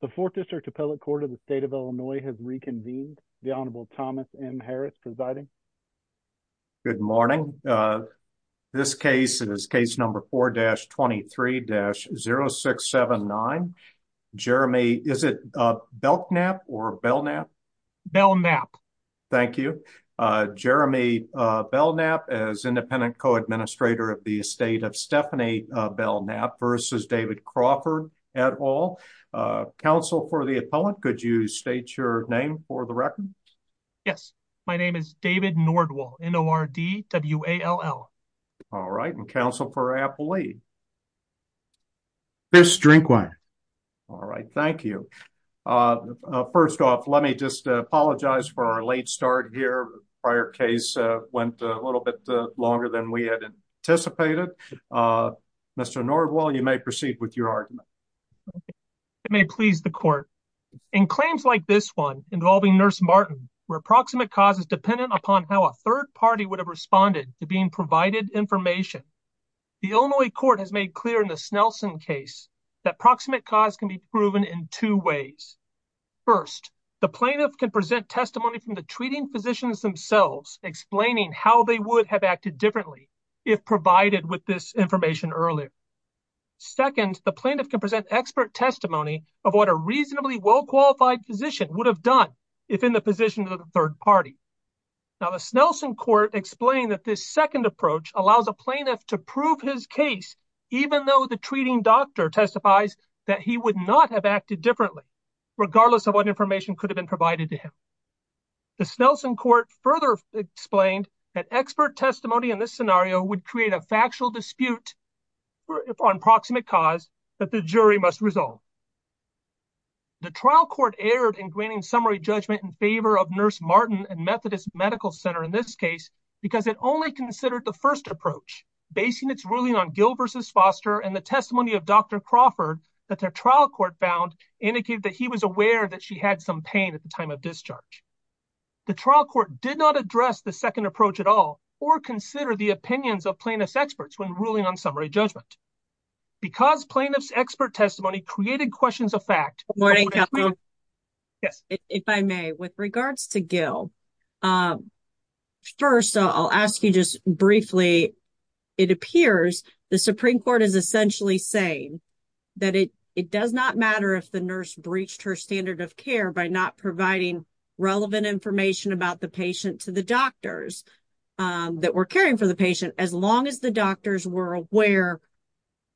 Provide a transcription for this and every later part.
The Fourth District Appellate Court of the State of Illinois has reconvened. The Honorable Thomas M. Harris presiding. Good morning. This case is case number 4-23-0679. Jeremy, is it Belknap or Belknap? Belknap. Thank you. Jeremy Belknap as Independent Co-Administrator of the Estate of Stephanie Belknap versus David Crawford et al. Counsel for the appellant, could you state your name for the record? Yes. My name is David Nordwall, N-O-R-D-W-A-L-L. All right. And counsel for appellee? Fisk Drinkwine. All right. Thank you. First off, let me just apologize for our late start here. Prior case went a little bit longer than we had anticipated. Mr. Nordwall, you may proceed with your argument. It may please the court. In claims like this one involving Nurse Martin, where proximate cause is dependent upon how a third party would have responded to being provided information, the Illinois court has made clear in the Snelson case that proximate cause can be proven in two ways. First, the plaintiff can present testimony from the treating physicians themselves explaining how they would have acted differently if provided with this information earlier. Second, the plaintiff can present expert testimony of what a reasonably well-qualified physician would have done if in the position of the third party. Now, the Snelson court explained that this second approach allows a plaintiff to prove his case even though the treating doctor testifies that he would not have acted differently, regardless of what further explained that expert testimony in this scenario would create a factual dispute on proximate cause that the jury must resolve. The trial court erred in granting summary judgment in favor of Nurse Martin and Methodist Medical Center in this case because it only considered the first approach, basing its ruling on Gill v. Foster and the testimony of Dr. Crawford that the trial court found indicated that he was aware that she had some pain at the time of discharge. The trial court did not address the second approach at all or consider the opinions of plaintiff's experts when ruling on summary judgment. Because plaintiff's expert testimony created questions of fact... Good morning. Yes. If I may, with regards to Gill, first I'll ask you just briefly, it appears the Supreme Court is essentially saying that it does not matter if the nurse breached her standard of care by not providing relevant information about the patient to the doctors that were caring for the patient, as long as the doctors were aware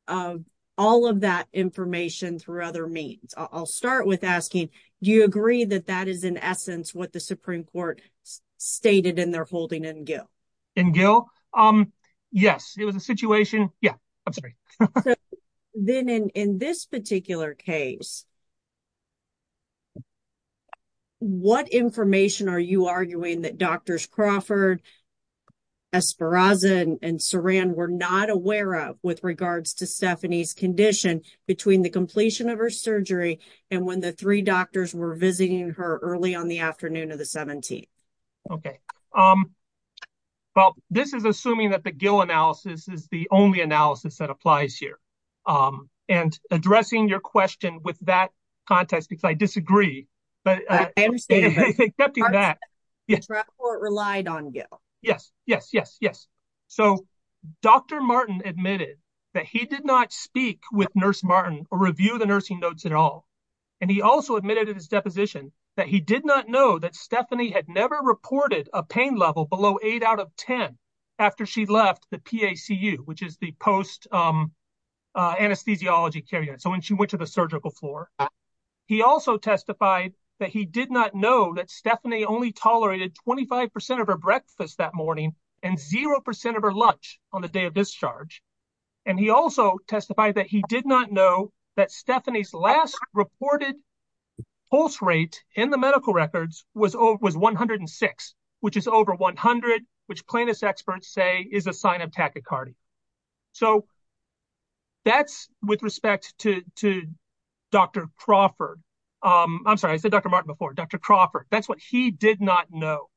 of all of that information through other means. I'll start with asking, do you agree that that is in essence what the Supreme Court stated in their holding in Gill? In Gill? Yes, it was a situation... Yeah, I'm sorry. So then in this particular case, what information are you arguing that Drs. Crawford, Esperanza, and Saran were not aware of with regards to Stephanie's condition between the completion of her surgery and when the three doctors were visiting her early on the afternoon of the 17th? Okay, well, this is assuming that Gill analysis is the only analysis that applies here. And addressing your question with that context, because I disagree, but accepting that... Dr. Crawford relied on Gill. Yes, yes, yes, yes. So Dr. Martin admitted that he did not speak with Nurse Martin or review the nursing notes at all. And he also admitted in his deposition that he did not know that Stephanie had never reported a pain level below eight out of 10 after she left the PACU, which is the post-anesthesiology care unit, so when she went to the surgical floor. He also testified that he did not know that Stephanie only tolerated 25% of her breakfast that morning and 0% of her lunch on the day of discharge. And he also testified that he did not know that Stephanie's last reported pulse rate in the medical records was 106, which is over 100, which plaintiff's experts say is a sign of tachycardia. So that's with respect to Dr. Crawford. I'm sorry, I said Dr. Martin before, Dr. Crawford, that's what he did not know,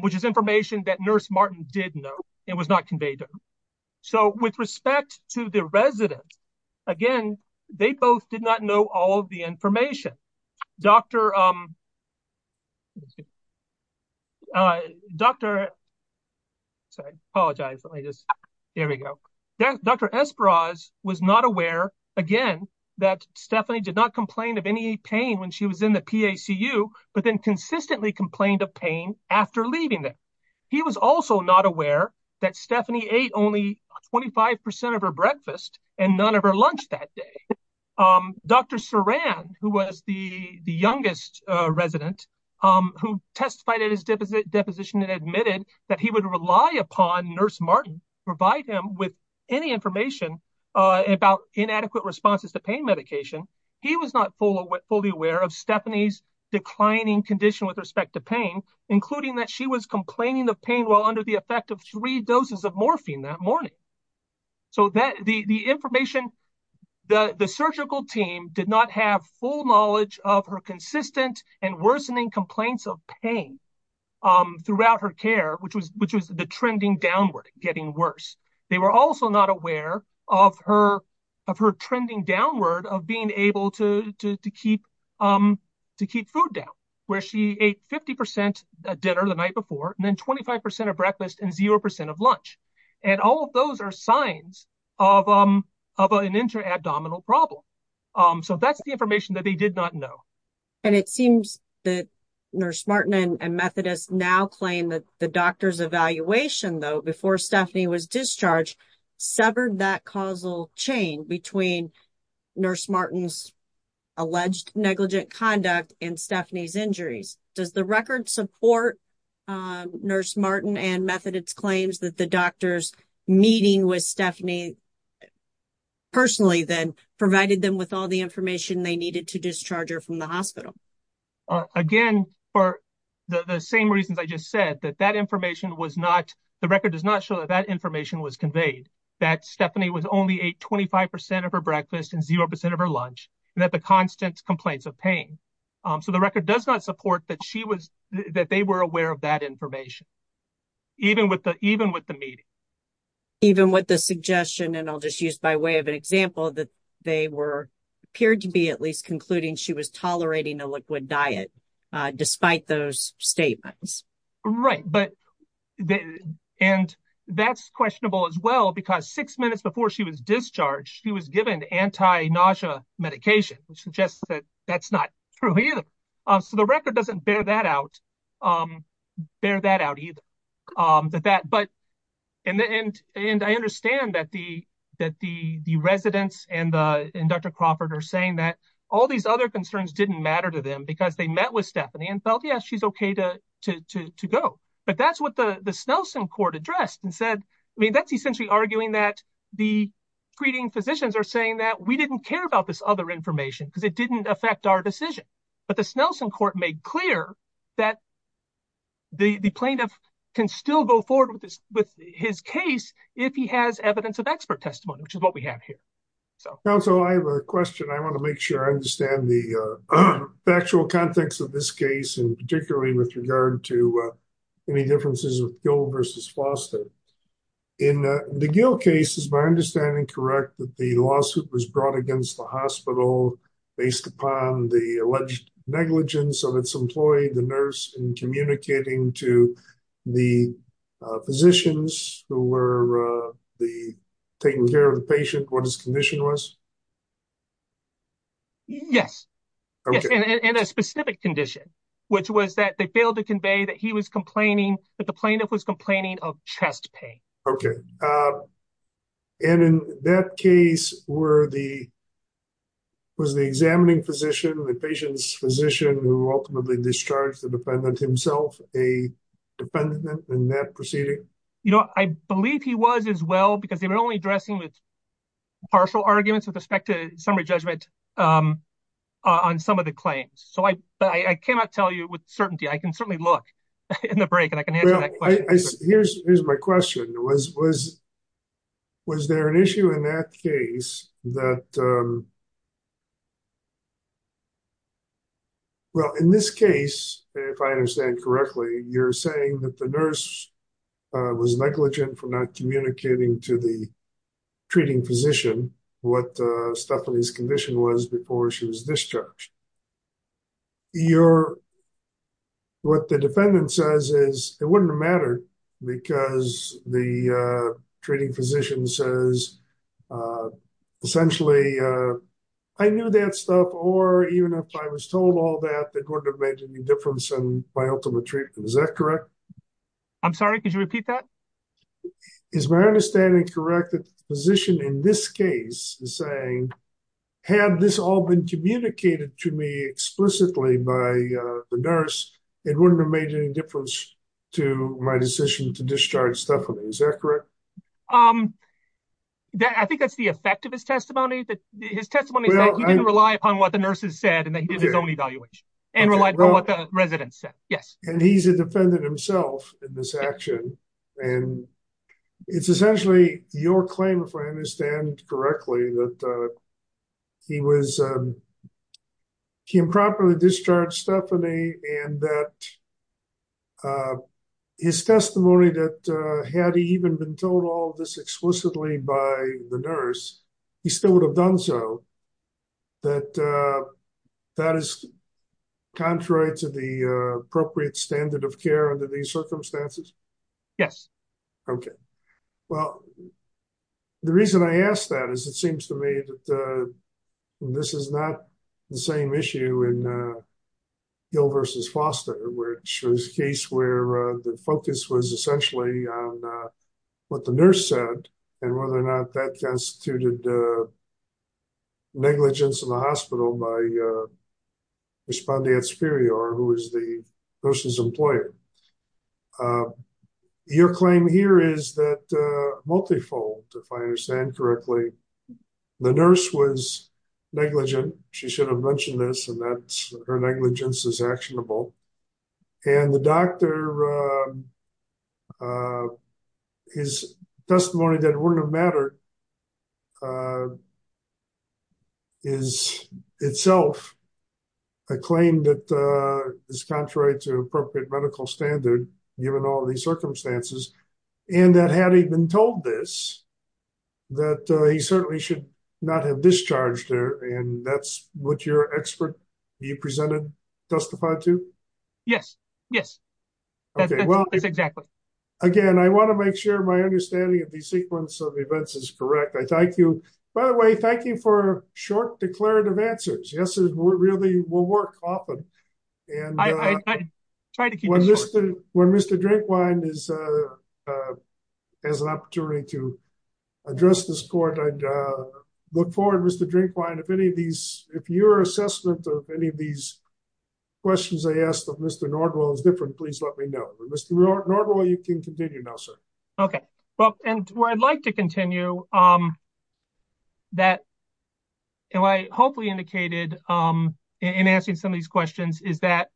which is information that Nurse Martin did know and was not conveyed to him. So with respect to the resident, again, they both did not know all the information. Dr. Esperos was not aware, again, that Stephanie did not complain of any pain when she was in the PACU, but then consistently complained of pain after leaving there. He was also not aware that Stephanie ate only 25% of her breakfast and none of her lunch that day. Dr. Saran, who was the youngest resident, who testified at his deposition and admitted that he would rely upon Nurse Martin to provide him with any information about inadequate responses to pain medication. He was not fully aware of Stephanie's declining condition with respect to pain, including that she was complaining of pain while under the effect of three doses of the drug. The surgical team did not have full knowledge of her consistent and worsening complaints of pain throughout her care, which was the trending downward, getting worse. They were also not aware of her trending downward of being able to keep food down, where she ate 50% dinner the night before and then 25% of breakfast and 0% of lunch. All of those are signs of an intra-abdominal problem. That's the information that they did not know. It seems that Nurse Martin and Methodist now claim that the doctor's evaluation, though, before Stephanie was discharged, severed that causal chain between Nurse Martin's alleged negligent conduct and Stephanie's injuries. Does the record support Nurse Martin and Methodist's claims that the doctor's meeting with Stephanie personally, then, provided them with all the information they needed to discharge her from the hospital? Again, for the same reasons I just said, that that information was not, the record does not show that that information was conveyed, that Stephanie was only a 25% of her breakfast and 0% of her lunch and that the constant complaints of pain. So the record does not support that she was, that they were aware of that information, even with the meeting. Even with the suggestion, and I'll just use by way of an example, that they were, appeared to be at least concluding she was tolerating a liquid diet, despite those statements. Right, but, and that's questionable as well, because six minutes before she was discharged, she was given anti-nausea medication, which suggests that that's not true either. So the record does not bear that out either. But, and I understand that the residents and Dr. Crawford are saying that all these other concerns didn't matter to them because they met with Stephanie and felt, yeah, she's okay to go. But that's what the Snelson court addressed and said, I mean, that's essentially arguing that the screening physicians are saying that we didn't care about this other information because it didn't affect our decision. But the Snelson court made clear that the plaintiff can still go forward with his case if he has evidence of expert testimony, which is what we have here. So. Counsel, I have a question. I want to make sure I understand the factual context of this case, and particularly with regard to any differences with Gill versus Foster. In the Gill case, is my understanding correct that the lawsuit was negligence of its employee, the nurse, in communicating to the physicians who were taking care of the patient what his condition was? Yes. And a specific condition, which was that they failed to convey that he was complaining that the plaintiff was complaining of chest pain. Okay. And in that case, where the, the examining physician, the patient's physician who ultimately discharged the defendant himself, a defendant in that proceeding? You know, I believe he was as well, because they were only addressing with partial arguments with respect to summary judgment on some of the claims. So I, but I cannot tell you with certainty. I can certainly look in the break and I can answer Here's, here's my question was, was, was there an issue in that case that, well, in this case, if I understand correctly, you're saying that the nurse was negligent for not communicating to the treating physician what Stephanie's condition was before she was discharged? You're, what the defendant says is it wouldn't matter because the treating physician says, essentially, I knew that stuff, or even if I was told all that, that wouldn't have made any difference in my ultimate treatment. Is that correct? I'm sorry, could you repeat that? Is my understanding correct that the physician in this case is saying, had this all been communicated to me explicitly by the nurse, it wouldn't have made any difference to my decision to discharge Stephanie. Is that correct? Um, I think that's the effect of his testimony, that his testimony didn't rely upon what the nurses said, and then his own evaluation and relied on what the residents said. Yes. And he's a defendant himself in this action. And it's essentially your claim, if I understand correctly, that he was, he improperly discharged Stephanie, and that his testimony that had he even been told all this explicitly by the nurse, he still would have done so. That, that is contrary to the appropriate standard of care under these circumstances? Yes. Okay. Well, the reason I asked that is, it seems to me that this is not the same issue in Gil versus Foster, which was a case where the focus was essentially on what the nurse said, and whether or not that constituted a negligence in the hospital by respondeat superior, who is the nurse's employer. Your claim here is that multifold, if I understand correctly, the nurse was negligent, she should have mentioned this, and that her negligence is actionable. And the doctor, his testimony that wouldn't have mattered is itself a claim that is contrary to appropriate medical standard, given all of these circumstances. And that had he been told this, that he certainly should not have discharged her. And that's what your expert, you presented, testified to? Yes. Yes. Exactly. Again, I want to make sure my understanding of the sequence of events is correct. I thank you. By the way, thank you for short declarative answers. Yes, it really will work often. And I try to keep when Mr. Drinkwine is, has an opportunity to address this court. I'd look forward, Mr. Drinkwine, if any of these, if your assessment of any of these questions I asked of Mr. Nordwell is different, please let me know. Mr. Nordwell, you can continue now, sir. Okay. Well, and where I'd like to continue, that I hopefully indicated in answering some of these questions is that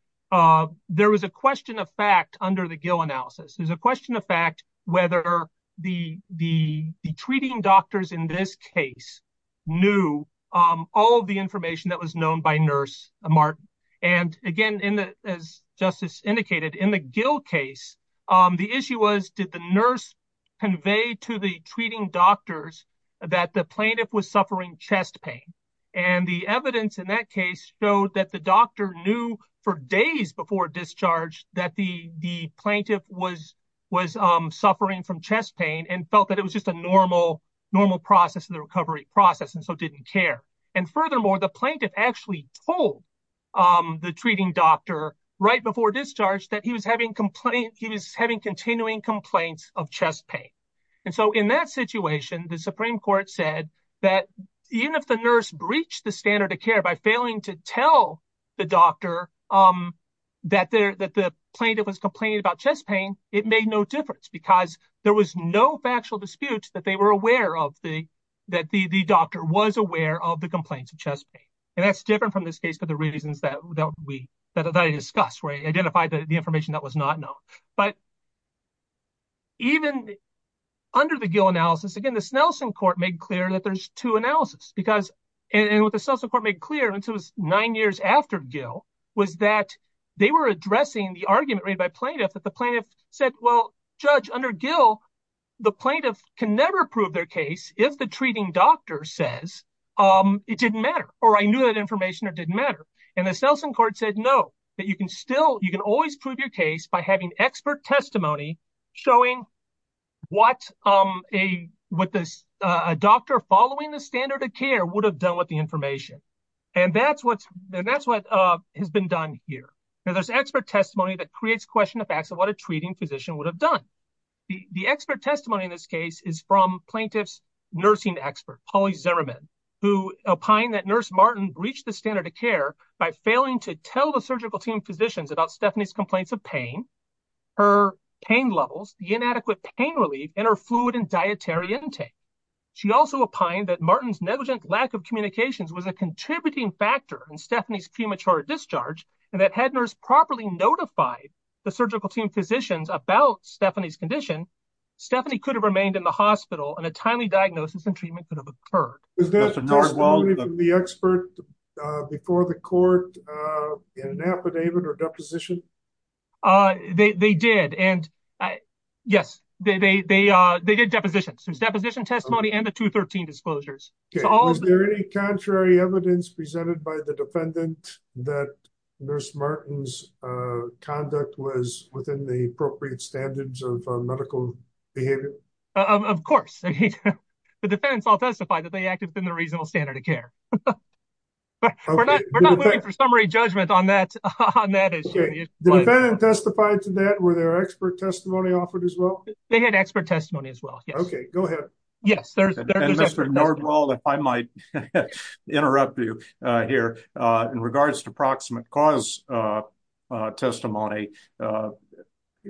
there was a question of fact under the Gill analysis. There's a question of fact, whether the treating doctors in this case knew all of the information that was known by Nurse Martin. And again, as Justice indicated, in the Gill case, the issue was, did the nurse convey to the treating doctors that the plaintiff was suffering chest pain? And the evidence in that case showed that the doctor knew for days before discharge that the plaintiff was suffering from chest pain and felt that it was just a normal process in the recovery process and so didn't care. And furthermore, the plaintiff actually told the treating doctor right before discharge that he was having continuing complaints of chest pain. And so in that situation, the Supreme Court said that even if the nurse breached the standard of care by failing to tell the doctor that the plaintiff was complaining about chest pain, it made no difference because there was no factual dispute that they were aware of, that the doctor was aware of the complaints of chest pain. And that's different from this case for the reasons that I discussed, where I identified the information that was not known. But even under the Gill analysis, again, the Snelson Court made clear that there's two analysis. And what the Snelson Court made clear, and this was nine years after Gill, was that they were addressing the argument made by plaintiff that the plaintiff said, well, Judge, under Gill, the plaintiff can never prove their case if the treating doctor says, it didn't matter, or I knew that information or didn't matter. And the Snelson Court said, no, that you can still, you can always prove your case by having expert testimony showing what a doctor following the standard of care would have done with the information. And that's what has been done here. Now, there's expert testimony that creates question of facts of what a treating physician would have done. The expert testimony in this case is from plaintiff's nursing expert, Polly Zeriman, who opined that Nurse Martin breached the standard of care by failing to tell the surgical team physicians about Stephanie's complaints of pain, her pain levels, the inadequate pain relief, and her fluid and dietary intake. She also opined that Martin's negligent lack of communications was a contributing factor in Stephanie's premature discharge, and that had nurse properly notified the surgical team physicians about Stephanie's condition, Stephanie could have remained in the hospital and a timely diagnosis and treatment could have occurred. Is that testimony from the expert before the court in an affidavit or deposition? They did. And yes, they did depositions. Deposition testimony and the 213 disclosures. Was there any contrary evidence presented by the defendant that Nurse Martin's conduct was within the appropriate standards of medical behavior? Of course. The defense all testified that they acted within the reasonable standard of care. But we're not looking for summary judgment on that on that issue. The defendant testified to that. Were there expert testimony offered as well? They had expert testimony as well. OK, go ahead. Yes, there's Mr. Nordwald. If I might interrupt you here in regards to proximate cause testimony,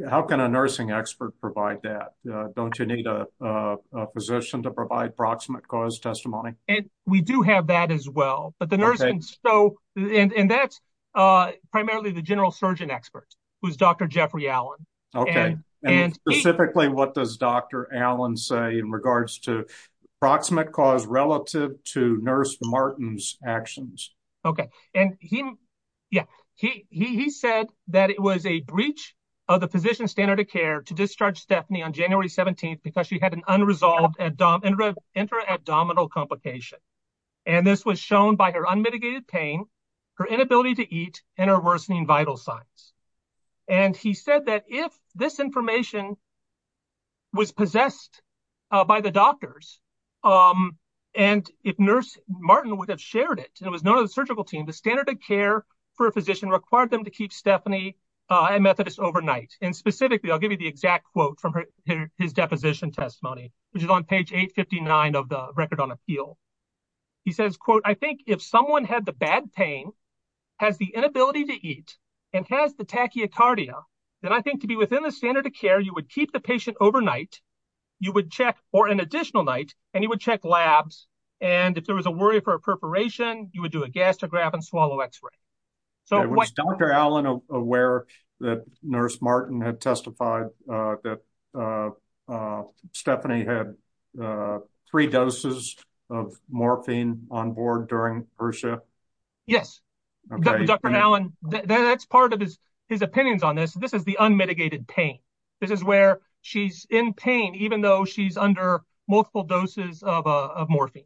how can a nursing expert provide that? Don't you need a position to provide proximate cause testimony? And we do have that as well. But the nurse and that's primarily the general surgeon expert who is Dr. Jeffrey Allen. OK, and specifically, what does Dr. Allen say in regards to proximate cause relative to Nurse Martin's actions? OK, and yeah, he said that it was a breach of the physician standard of care to discharge Stephanie on January 17th because she had an unresolved intra-abdominal complication. And this was shown by her unmitigated pain, her inability to eat, and her worsening vital signs. And he said that if this information was possessed by the doctors and if Nurse Martin would have shared it and was known to the surgical team, the standard of care for a physician required them to keep Stephanie and Methodist overnight. And specifically, I'll give you the exact quote from his deposition testimony, which is on page 859 of the Record on Appeal. He says, quote, I think if someone had the bad pain, has the inability to eat, and has the tachycardia, then I think to be within the standard of care, you would keep the patient overnight, you would check for an additional night, and you would check labs. And if there was a worry for a perforation, you would do a gastrograph and swallow x-ray. So was Dr. Allen aware that Nurse Martin had testified that yes. Dr. Allen, that's part of his opinions on this. This is the unmitigated pain. This is where she's in pain, even though she's under multiple doses of morphine.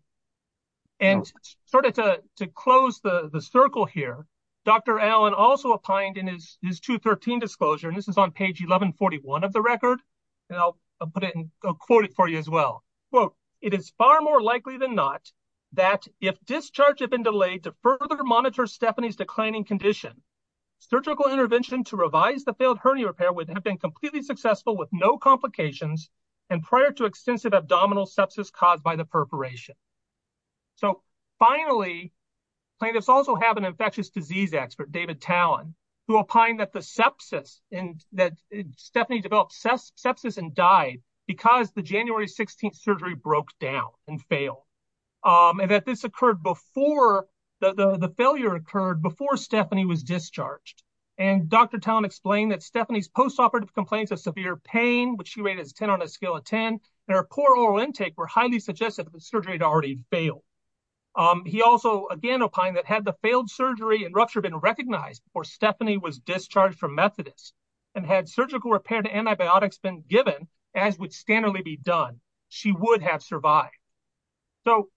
And sort of to close the circle here, Dr. Allen also opined in his 213 disclosure, and this is on page 1141 of the Record, and I'll put it in, I'll quote it for you as well. Quote, it is far more likely than not that if discharge had been delayed to further monitor Stephanie's declining condition, surgical intervention to revise the failed hernia repair would have been completely successful with no complications and prior to extensive abdominal sepsis caused by the perforation. So finally, plaintiffs also have an infectious disease expert, David Tallon, who opined that the sepsis, that Stephanie developed sepsis and died because the January 16th surgery broke down and failed. And that this occurred before, the failure occurred before Stephanie was discharged. And Dr. Tallon explained that Stephanie's post-operative complaints of severe pain, which she rated as 10 on a scale of 10, and her poor oral intake were highly suggested that the surgery had already failed. He also again opined that had the failed surgery and rupture been recognized before Stephanie was discharged from Methodist and had surgical repair to antibiotics been given, as would standardly be done, she would have survived. So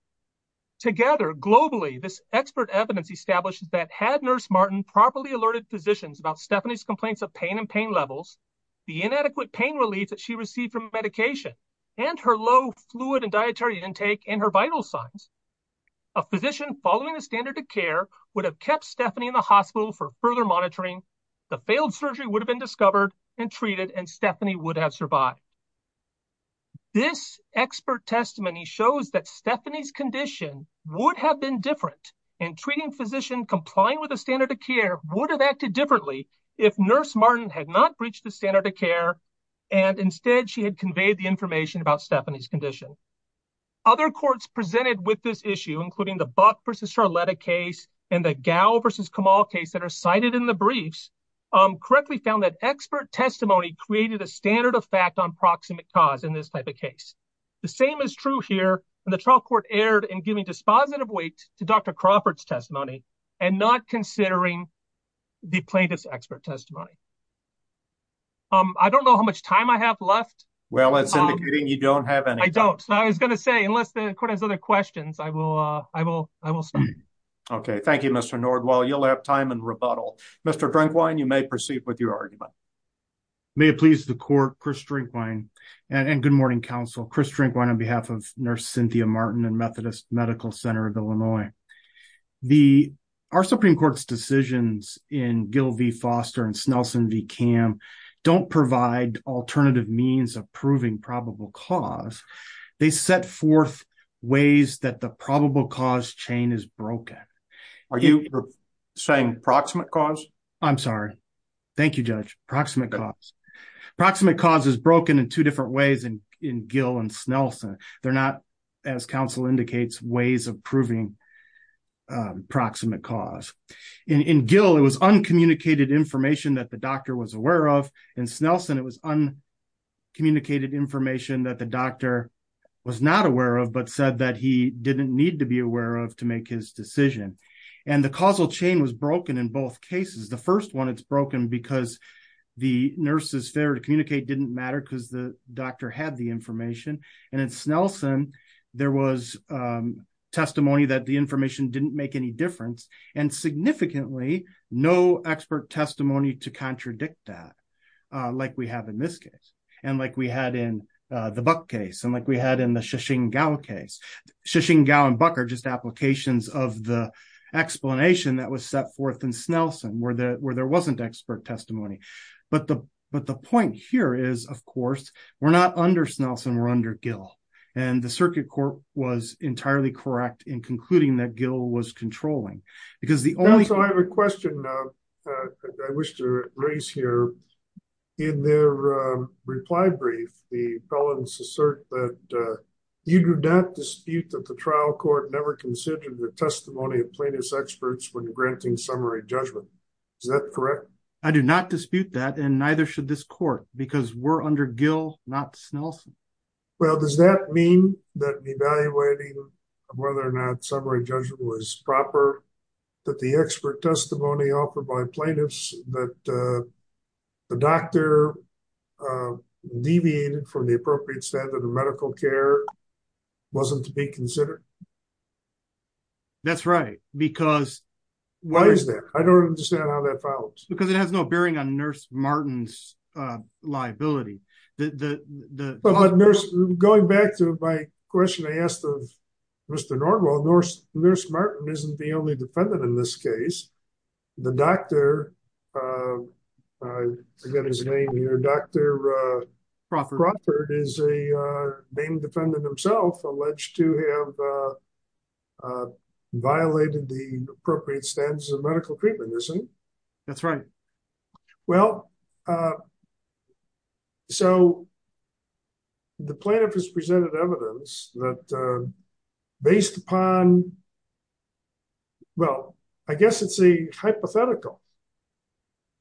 together, globally, this expert evidence establishes that had Nurse Martin properly alerted physicians about Stephanie's complaints of pain and pain levels, the inadequate pain relief that she received from medication, and her low fluid and dietary intake and her vital signs, a physician following the standard of care would have kept Stephanie in the hospital for further monitoring. The failed surgery would have been discovered and treated and Stephanie would have survived. This expert testimony shows that Stephanie's condition would have been different and treating physician complying with the standard of care would have acted differently if Nurse Martin had not breached the standard of care. And instead, she had conveyed the information about Stephanie's condition. Other courts presented with this issue, including the Buck versus briefs, correctly found that expert testimony created a standard of fact on proximate cause in this type of case. The same is true here, and the trial court erred in giving dispositive weight to Dr. Crawford's testimony and not considering the plaintiff's expert testimony. I don't know how much time I have left. Well, it's indicating you don't have any. I don't. I was going to say, unless the court has other questions, I will stop. Okay, thank you, Mr. Nordweil. You'll have time in rebuttal. Mr. Drinkwine, you may proceed with your argument. May it please the court, Chris Drinkwine, and good morning, counsel, Chris Drinkwine, on behalf of Nurse Cynthia Martin and Methodist Medical Center of Illinois. Our Supreme Court's decisions in Gill v. Foster and Snelson v. Cam don't provide alternative means of proving probable cause. They set forth ways that the probable cause chain is broken. Are you saying proximate cause? I'm sorry. Thank you, Judge. Proximate cause. Proximate cause is broken in two different ways in Gill and Snelson. They're not, as counsel indicates, ways of proving proximate cause. In Gill, it was uncommunicated information that the doctor was aware of. In Snelson, it was uncommunicated information that the doctor was not aware of, said that he didn't need to be aware of to make his decision. The causal chain was broken in both cases. The first one, it's broken because the nurse's failure to communicate didn't matter because the doctor had the information. In Snelson, there was testimony that the information didn't make any difference. Significantly, no expert testimony to contradict that, like we have in this case, and like we had in the Buck case, and like we had in the Shichingao case. Shichingao and Buck are just applications of the explanation that was set forth in Snelson, where there wasn't expert testimony. The point here is, of course, we're not under Snelson, we're under Gill. The circuit court was entirely correct in concluding that Gill was in their reply brief. The felons assert that you do not dispute that the trial court never considered the testimony of plaintiff's experts when granting summary judgment. Is that correct? I do not dispute that, and neither should this court, because we're under Gill, not Snelson. Well, does that mean that evaluating whether or not summary judgment was proper, that the expert testimony offered by plaintiffs, that the doctor deviated from the appropriate standard of medical care, wasn't to be considered? That's right, because... Why is that? I don't understand how that follows. Because it has no bearing on Nurse Martin's liability. The... Going back to my question I asked of Mr. Norwell, Nurse Martin isn't the only defendant in this case. The doctor, I forget his name here, Dr. Crawford is a named defendant himself, alleged to have violated the appropriate standards of medical treatment, isn't he? That's right. Well, so the plaintiff has presented evidence that based upon... Well, I guess it's a hypothetical.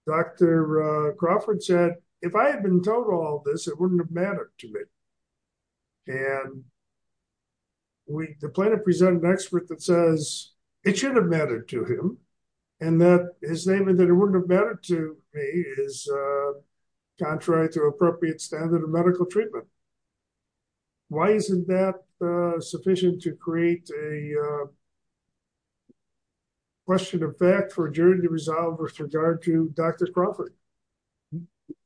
Dr. Crawford said, if I had been told all this, it wouldn't have mattered to me. And the plaintiff presented an expert that says it should have mattered to him, and that his statement that it wouldn't have mattered to me is contrary to appropriate standard of medical treatment. Why isn't that sufficient to create a question of fact for a jury to resolve with regard to Dr. Crawford?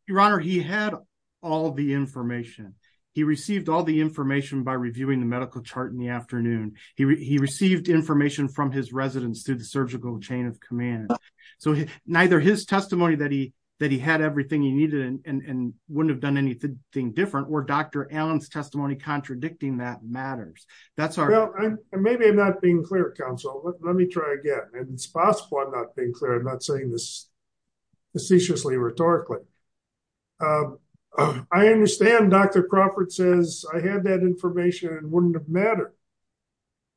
Your Honor, he had all the information. He received all the information by reviewing the medical chart in the afternoon. He received information from his residence through the surgical chain of command. So neither his testimony that he had everything he needed and wouldn't have done anything different or Dr. Allen's testimony contradicting that matters. That's our- Well, maybe I'm not being clear, counsel, but let me try again. And it's possible I'm not being clear. I'm not saying this facetiously rhetorically. I understand Dr. Crawford says I had that information and wouldn't have mattered.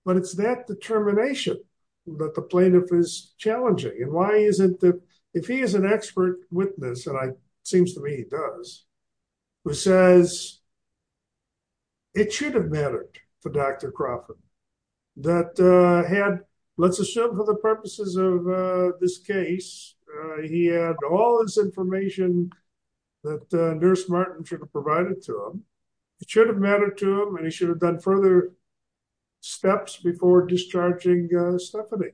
But it's that determination that the plaintiff is challenging. And why isn't it if he is an expert witness, and it seems to me he does, who says it should have mattered for Dr. Crawford that had, let's assume for the purposes of this case, he had all this information that Nurse Martin should have provided to him. It should have mattered to him, and he should have done further steps before discharging Stephanie.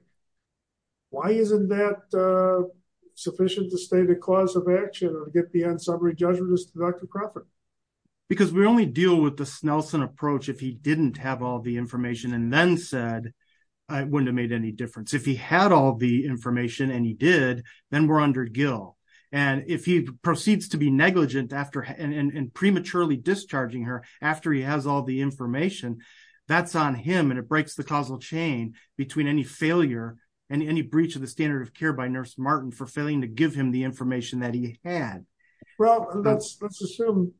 Why isn't that sufficient to state a cause of action or to get the unsummary judgment as to Dr. Crawford? Because we only deal with the Snelson approach if he didn't have all the information and then said it wouldn't have made any difference. If he had all the information and he did, then we're under Gill. And if he proceeds to be negligent and prematurely discharging her after he has all the information, that's on him and it breaks the causal chain between any failure and any breach of the standard of care by Nurse Martin for failing to give him the information that he had. Well, let's assume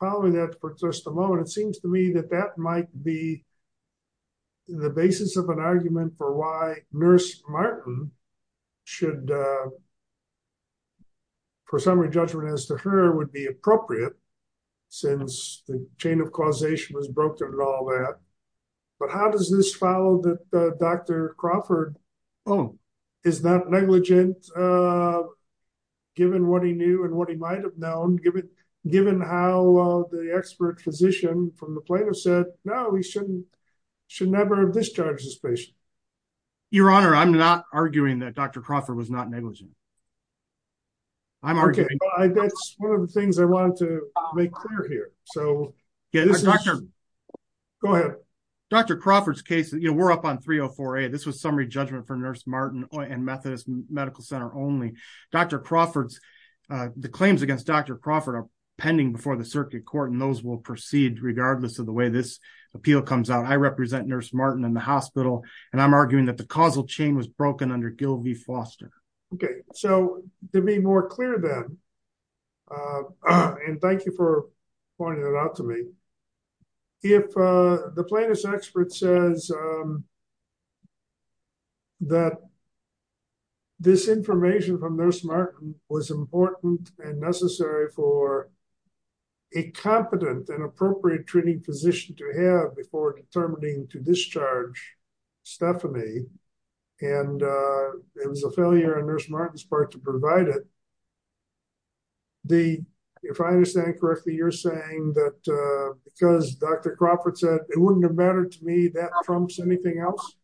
probably that for just a moment, it seems to me that that might be the basis of an argument for why Nurse Martin should, for summary judgment as to her, would be appropriate since the chain of causation was broken and all that. But how does this follow that Dr. Crawford is not negligent given what he knew and what he might have known, given how the expert physician from the plaintiff said, no, he should never have discharged this patient? Your Honor, I'm not arguing that Dr. Crawford was not negligent. I'm arguing that's one of the things I wanted to make clear here. So go ahead. Dr. Crawford's case, you know, we're up on 304A. This was summary judgment for Nurse Martin and Methodist Medical Center only. Dr. Crawford's, the claims against Dr. Crawford are pending before the circuit court and those will proceed regardless of the way this appeal comes out. I represent Nurse Martin in the To be more clear then, and thank you for pointing it out to me, if the plaintiff's expert says that this information from Nurse Martin was important and necessary for a competent and appropriate treating physician to have before determining to discharge Stephanie and it was failure on Nurse Martin's part to provide it, if I understand correctly, you're saying that because Dr. Crawford said it wouldn't have mattered to me, that trumps anything else?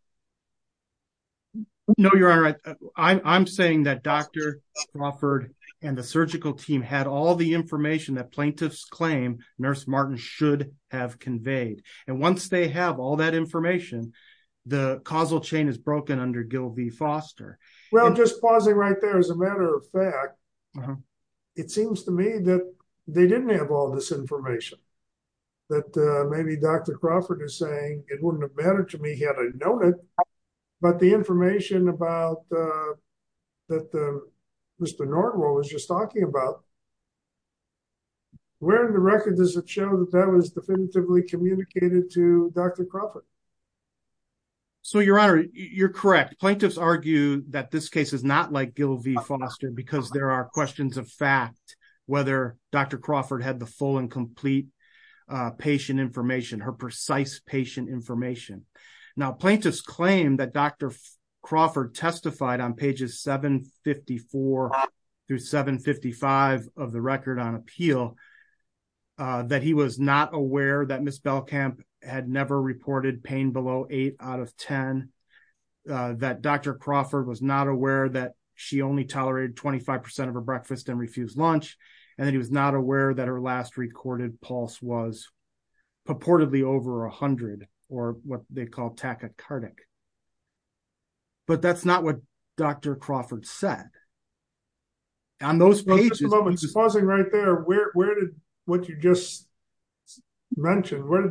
No, Your Honor. I'm saying that Dr. Crawford and the surgical team had all the information that plaintiffs claim Nurse Martin should have conveyed. And once they have all that information, the causal chain is broken under Gilby Foster. Well, just pausing right there, as a matter of fact, it seems to me that they didn't have all this information, that maybe Dr. Crawford is saying it wouldn't have mattered to me had I known it, but the information about that Mr. Nordwall was just talking about, where in the record does it show that that was definitively communicated to Dr. Crawford? So, Your Honor, you're correct. Plaintiffs argue that this case is not like Gilby Foster because there are questions of fact, whether Dr. Crawford had the full and complete patient information, her precise patient information. Now, plaintiffs claim that Dr. Crawford testified on pages 754 through 755 of the record on appeal that he was not aware that Ms. Belkamp had never reported pain below eight out of 10, that Dr. Crawford was not aware that she only tolerated 25% of her breakfast and refused lunch, and that he was not aware that her last recorded pulse was purportedly over 100, or what they call tachycardic. But that's not what Dr. Crawford said. On those pages- Where did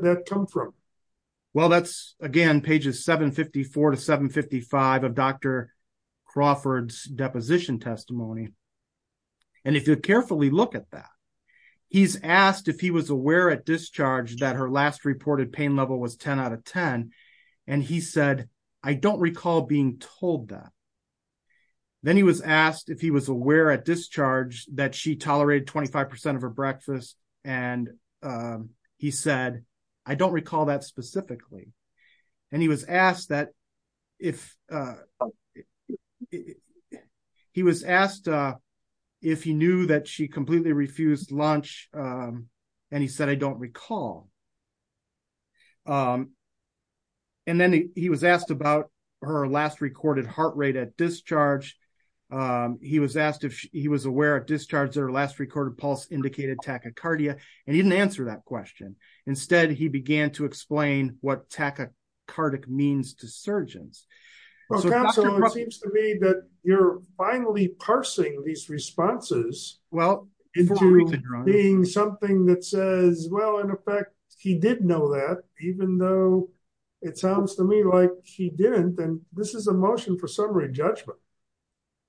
that come from? Well, that's, again, pages 754 to 755 of Dr. Crawford's deposition testimony. And if you carefully look at that, he's asked if he was aware at discharge that her last reported pain level was 10 out of 10, and he said, I don't recall being told that. Then he was asked if he was aware at discharge that she tolerated 25% of her breakfast, and he said, I don't recall that specifically. And he was asked if he knew that she completely refused lunch, and he said, I don't recall. And then he was asked about her last recorded heart rate at discharge. He was asked if he was aware at discharge that her last recorded indicated tachycardia, and he didn't answer that question. Instead, he began to explain what tachycardic means to surgeons. So it seems to me that you're finally parsing these responses being something that says, well, in effect, he did know that, even though it sounds to me like he didn't, and this is a motion for summary judgment.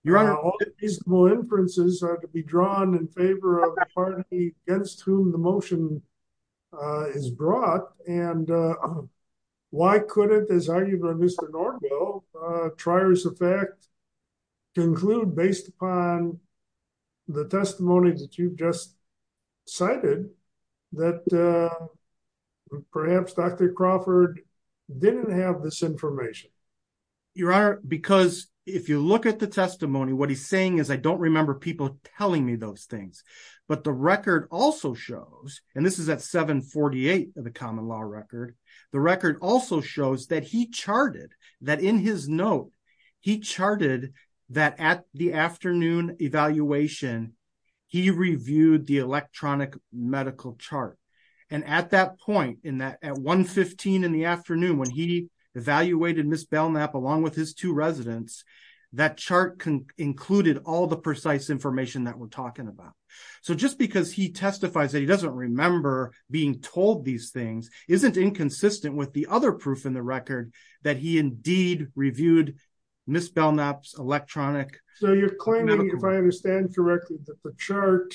All the reasonable inferences are to be drawn in favor of the party against whom the motion is brought, and why couldn't, as argued by Mr. Norville, trier's effect conclude based upon the testimony that you've just cited that perhaps Dr. Crawford didn't have this information? Your Honor, because if you look at the testimony, what he's saying is, I don't remember people telling me those things. But the record also shows, and this is at 748 of the common law record, the record also shows that he charted, that in his note, he charted that at the afternoon evaluation, he reviewed the electronic medical chart. And at that point, at 1.15 in the afternoon when he evaluated Ms. Belknap along with his two residents, that chart included all the precise information that we're talking about. So just because he testifies that he doesn't remember being told these things isn't inconsistent with the other proof in the record that he indeed reviewed Ms. Belknap's electronic medical chart. So you're claiming, if I understand correctly, that the chart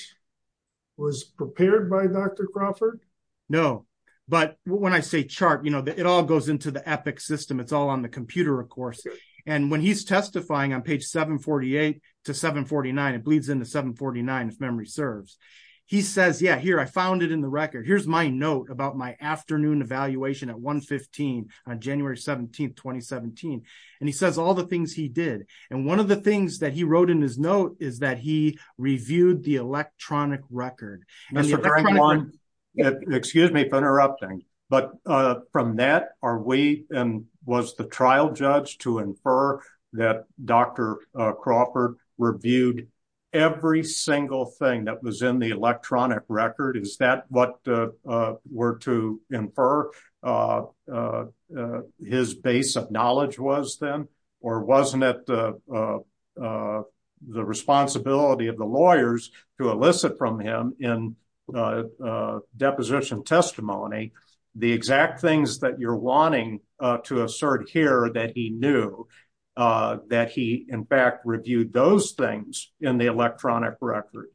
was prepared by Dr. Crawford? No. But when I say chart, you know, it all goes into the EPIC system. It's all on the computer, of course. And when he's testifying on page 748 to 749, it bleeds into 749, if memory serves. He says, yeah, here, I found it in the record. Here's my note about my afternoon evaluation at 1.15 on January 17, 2017. And he says all the things he did. And one of the things that he wrote in his note is that he reviewed the electronic record. Excuse me for interrupting. But from that, are we, and was the trial judge to infer that Dr. Crawford reviewed every single thing that was in the electronic record? Is that what were to infer his base of knowledge was then? Or wasn't it the responsibility of the lawyers to elicit from him in deposition testimony the exact things that you're wanting to assert here that he knew that he, in fact, reviewed those things in the electronic record?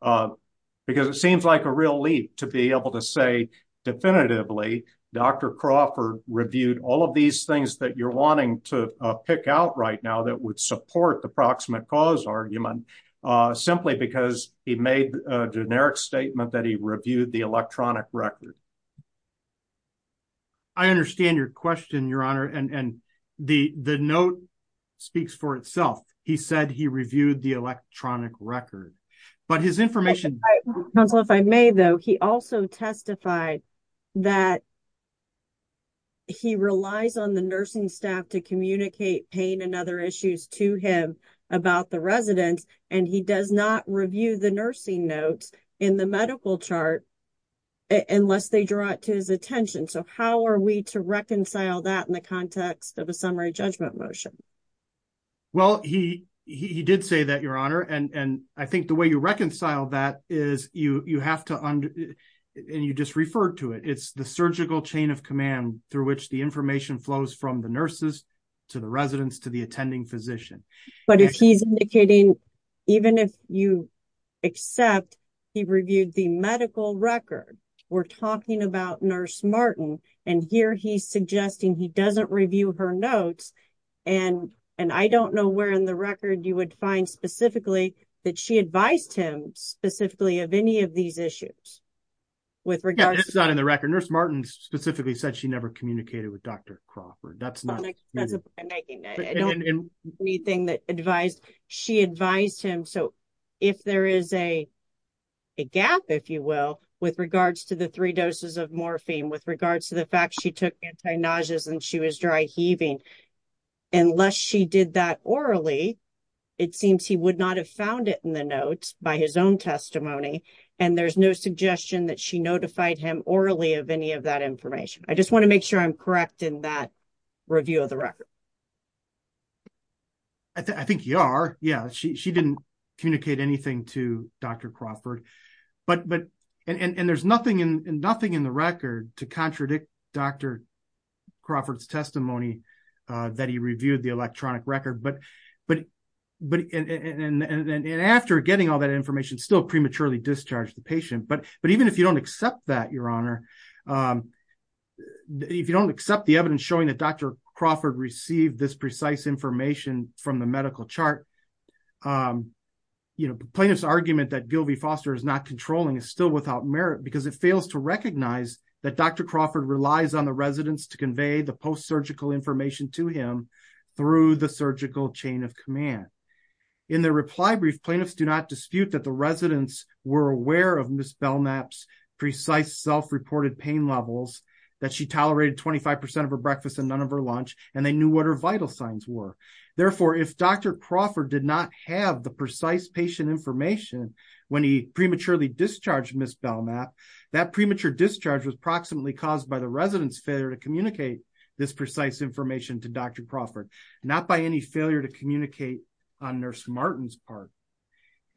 Because it seems like a real leap to be able to say definitively, Dr. Crawford reviewed all of these things that you're wanting to pick out right now that would support the proximate cause argument simply because he made a generic statement that he reviewed the electronic record. I understand your question, Your Honor. And the note speaks for itself. He said he reviewed the electronic record. But his information- Counselor, if I may, though, he also testified that he relies on the nursing staff to communicate pain and other issues to him about the residents. And he does not review the nursing notes in the medical chart unless they draw it to his attention. So how are we to reconcile that in the context of a summary judgment motion? Well, he did say that, Your Honor. And I think the way you reconcile that is you have to, and you just referred to it, it's the surgical chain of command through which the information flows from the nurses to the residents to the attending physician. But if he's indicating even if you accept he reviewed the medical record, we're talking about Nurse Martin, and here he's suggesting he doesn't review her notes. And I don't know where in the record you would find specifically that she advised him specifically of any of these issues with regards- Yeah, that's not in the record. Nurse Martin specifically said she never communicated with Dr. Crawford. That's not- That's a point I'm making. I don't agree with anything that advised, she advised him. So if there is a gap, if you will, with regards to the three doses of morphine, with regards to the fact she took anti-nauseas and she was dry heaving, unless she did that orally, it seems he would not have found it in the notes by his own testimony. And there's no suggestion that she notified him orally of any of that information. I just want to make sure I'm correct in that review of the record. I think you are. Yeah. She didn't communicate anything to Dr. Crawford. And there's nothing in the record to contradict Dr. Crawford's testimony that he reviewed the electronic record. And after getting all that information still prematurely discharged the patient. But even if you don't accept that, Your Honor, if you don't accept the evidence showing that Dr. Crawford received this precise information from the medical chart, the plaintiff's argument that Gilvie Foster is not controlling is still without merit because it fails to recognize that Dr. Crawford relies on the residents to convey the post-surgical information to him through the surgical chain of command. In the reply brief, plaintiffs do not dispute that the residents were aware of Ms. Belknap's precise self-reported pain levels, that she tolerated 25% of her breakfast and none of her lunch, and they knew what her vital signs were. Therefore, if Dr. Crawford did not have the precise patient information when he prematurely discharged Ms. Belknap, that premature discharge was proximately caused by the residents' failure to communicate this precise information to Dr. Crawford, not by any failure to communicate on Nurse Martin's part.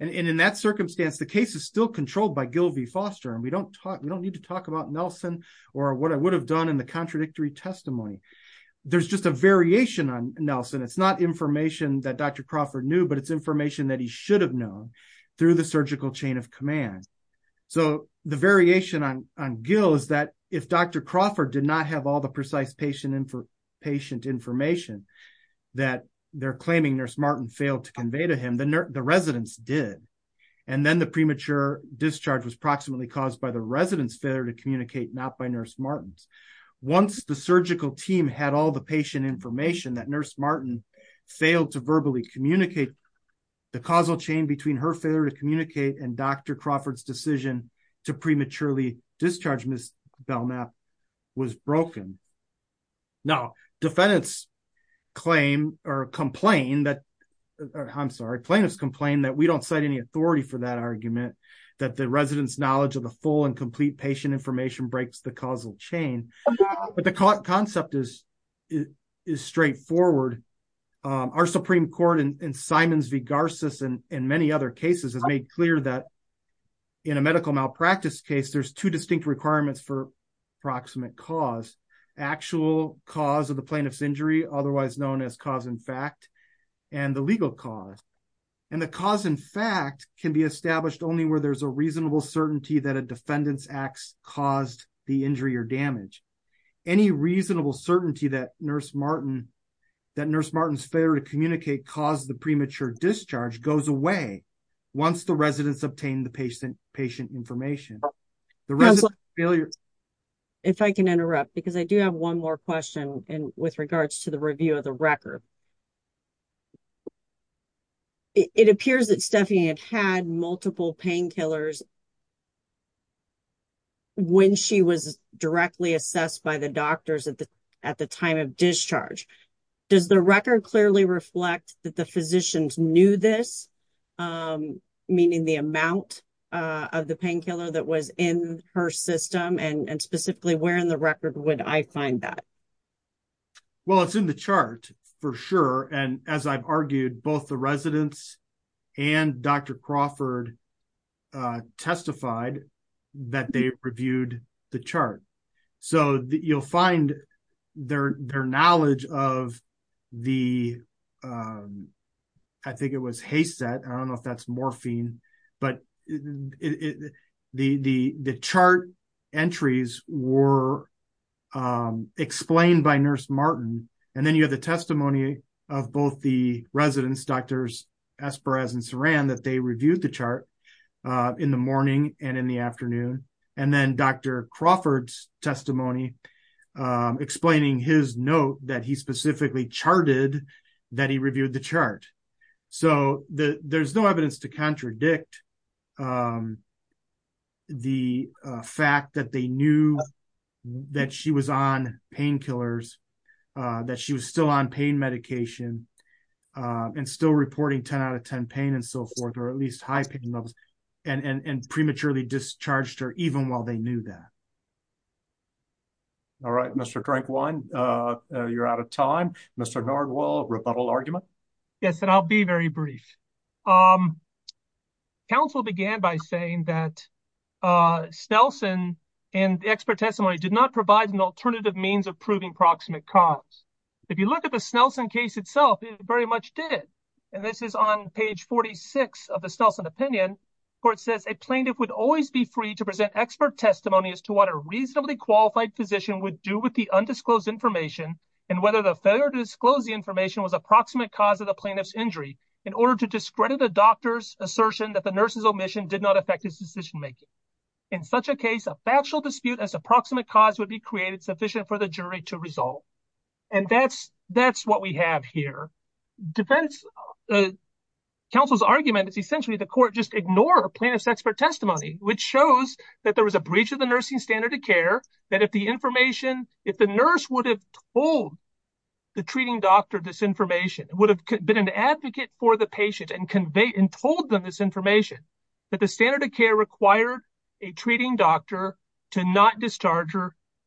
And in that circumstance, the case is still controlled by Gilvie Foster, and we don't need to talk about Nelson or what it would have done in the contradictory testimony. There's just a variation on Nelson. It's not information that Dr. Crawford knew, but it's information that he should have known through the surgical chain of command. So the variation on Gil is that if Dr. Crawford did not have all the precise patient information that they're claiming Nurse Martin failed to convey to him, the residents did, and then the premature discharge was proximately caused by the residents' failure to communicate, not by Nurse Martin's. Once the surgical team had all the patient information that Nurse Martin failed to verbally communicate, the causal chain between her failure to communicate and Dr. Crawford's decision to prematurely discharge Ms. Belknap was broken. Now, defendants claim or complain that, I'm sorry, plaintiffs complain that we don't cite any authority for that argument, that the residents' knowledge of the full and complete patient information breaks the causal chain. But the concept is straightforward. Our Supreme Court in Simons v. Garces and many other cases has made clear that in a medical malpractice case, there's two distinct requirements for proximate cause. Actual cause of the plaintiff's injury, otherwise known as cause in fact, and the legal cause. And the cause in fact can be established only where there's a reasonable certainty that a defendant's acts caused the injury or damage. Any reasonable certainty that Nurse Martin's failure to communicate caused the premature discharge goes away once the residents obtain the patient information. If I can interrupt, because I do have one more question with regards to the review of the record. It appears that Stephanie had multiple painkillers when she was directly assessed by the doctors at the time of discharge. Does the record clearly reflect that the physicians knew this, meaning the amount of the painkiller that was in her system? And specifically, where in the record would I find that? Well, it's in the chart for sure. And as I've argued, both the residents and Dr. Crawford testified that they reviewed the chart. So, you'll find their knowledge of the, I think it was Hayset, I don't know if that's morphine, but the chart entries were explained by Nurse Martin. And then you have the testimony of both the residents, Drs. Esperes and Saran, that they reviewed the chart in the morning and in the afternoon. And then Dr. Crawford's testimony explaining his note that he specifically charted that he reviewed the chart. So, there's no evidence to contradict the fact that they knew that she was on painkillers, that she was still on pain medication and still reporting 10 out of 10 pain and so forth, or at least high pain levels and prematurely discharged her even while they knew that. All right, Mr. Crankwine, you're out of time. Mr. Gardwell, rebuttal argument? Yes, and I'll be very brief. Council began by saying that Snelson and expert testimony did not provide an alternative means of proving proximate cause. If you look at the Snelson case itself, it very much did. And this is on page 46 of the Snelson opinion where it says, a plaintiff would always be free to present expert testimony as to what a reasonably qualified physician would do with the undisclosed information and whether the failure to disclose the information was approximate cause of the plaintiff's injury in order to discredit a doctor's assertion that the nurse's omission did not affect his decision making. In such a case, a factual dispute as approximate cause would be created sufficient for the jury to resolve. And that's what we have here. Defense counsel's argument is essentially the court just ignore plaintiff's expert testimony, which shows that there was a breach of the nursing standard of care, that if the information, if the nurse would have told the treating doctor this information, would have been an advocate for the patient and convey and told them this information, that the standard of care required a treating doctor to not discharge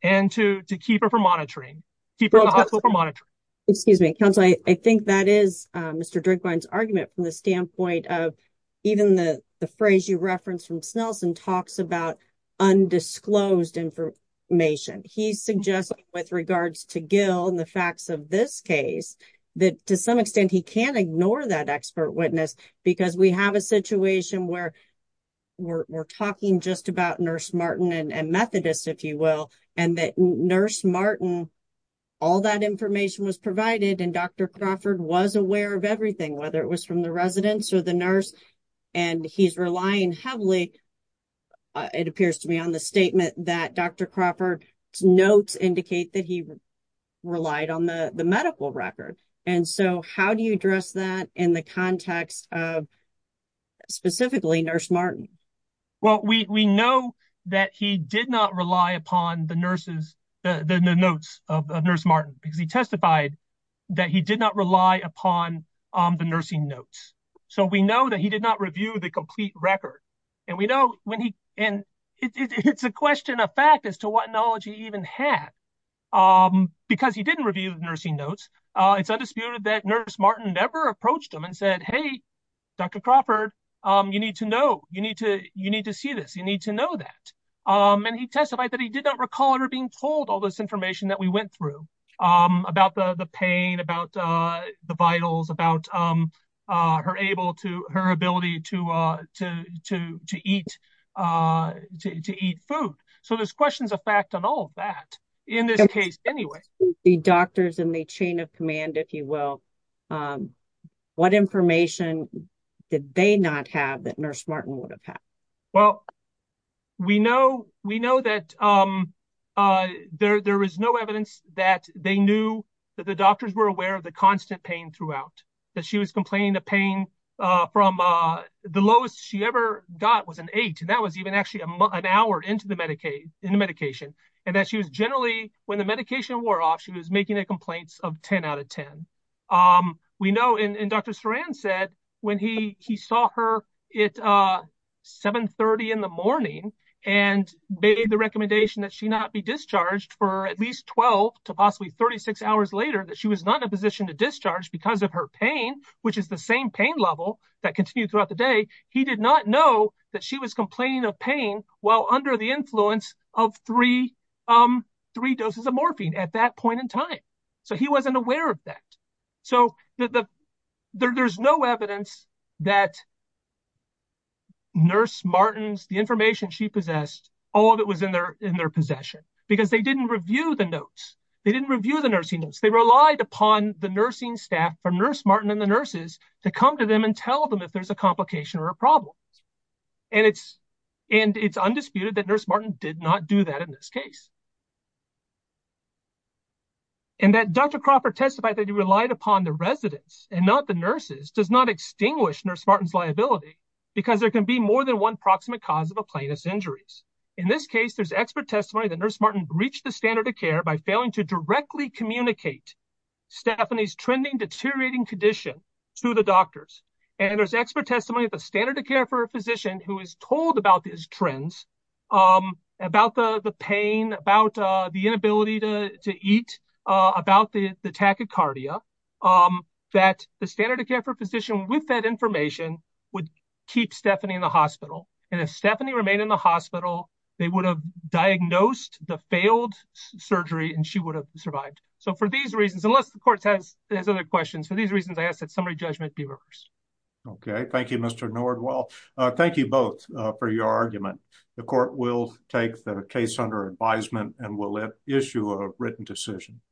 and to keep her from monitoring. Keep her in the hospital for monitoring. Excuse me, counsel. I think that is Mr. Drinkwine's argument from the standpoint of even the phrase you referenced from Snelson talks about undisclosed information. He suggests with regards to Gill and the facts of this case, that to some extent he can't ignore that expert witness because we have a situation where we're talking just about Nurse Martin and Methodist, if you will. And that Nurse Martin, all that information was provided and Dr. Crawford was aware of everything, whether it was from the residents or the nurse. And he's relying heavily, it appears to me, on the statement that Dr. Crawford's notes indicate that he relied on the medical record. And so how do you address that in the context of specifically Nurse Martin? Well, we know that he did not rely upon the nurses, the notes of Nurse Martin, because he testified that he did not rely upon the nursing notes. So we know that he did not review the complete record. And we know when he and it's a question of fact as to what knowledge he even had because he didn't review the nursing notes. It's undisputed that Nurse Martin never approached him and said, hey, Dr. Crawford, you need to know, you need to see this, you need to know that. And he testified that he did not recall her being told all this information that we went through about the pain, about the vitals, about her ability to eat food. So there's questions of fact on all of that in this case anyway. The doctors in the chain of command, if you will, what information did they not have that Nurse Martin would have had? Well, we know that there is no evidence that they knew that the doctors were aware of the constant pain throughout, that she was complaining of pain from the lowest she ever got was an eight. And that was even actually an hour into the medication. And that she was when the medication wore off, she was making a complaint of 10 out of 10. We know, and Dr. Saran said when he saw her at 7.30 in the morning and made the recommendation that she not be discharged for at least 12 to possibly 36 hours later that she was not in a position to discharge because of her pain, which is the same pain level that continued throughout the day. He did not know that she was complaining of pain while under the influence of three doses of morphine at that point in time. So he wasn't aware of that. So there's no evidence that Nurse Martin's, the information she possessed, all of it was in their possession because they didn't review the notes. They didn't review the nursing notes. They relied upon the nursing staff from Nurse Martin and the nurses to come to them and tell them if there's a complication or a problem. And it's undisputed that Nurse Martin did not do that in this case. And that Dr. Crawford testified that he relied upon the residents and not the nurses does not extinguish Nurse Martin's liability because there can be more than one proximate cause of a plaintiff's injuries. In this case, there's expert testimony that Nurse Martin breached the standard of care by failing to directly communicate Stephanie's trending deteriorating condition to the doctors. And there's expert testimony of a standard of care for a physician who is told about these trends, about the pain, about the inability to eat, about the tachycardia, that the standard of care for a physician with that information would keep Stephanie in the hospital. And if Stephanie remained in the hospital, they would have diagnosed the failed surgery and she would have survived. So for these reasons, unless the court has other questions, for these reasons, I ask that summary judgment be reversed. Okay. Thank you, Mr. Nordwell. Thank you both for your argument. The court will take the case under advisement and will issue a written decision.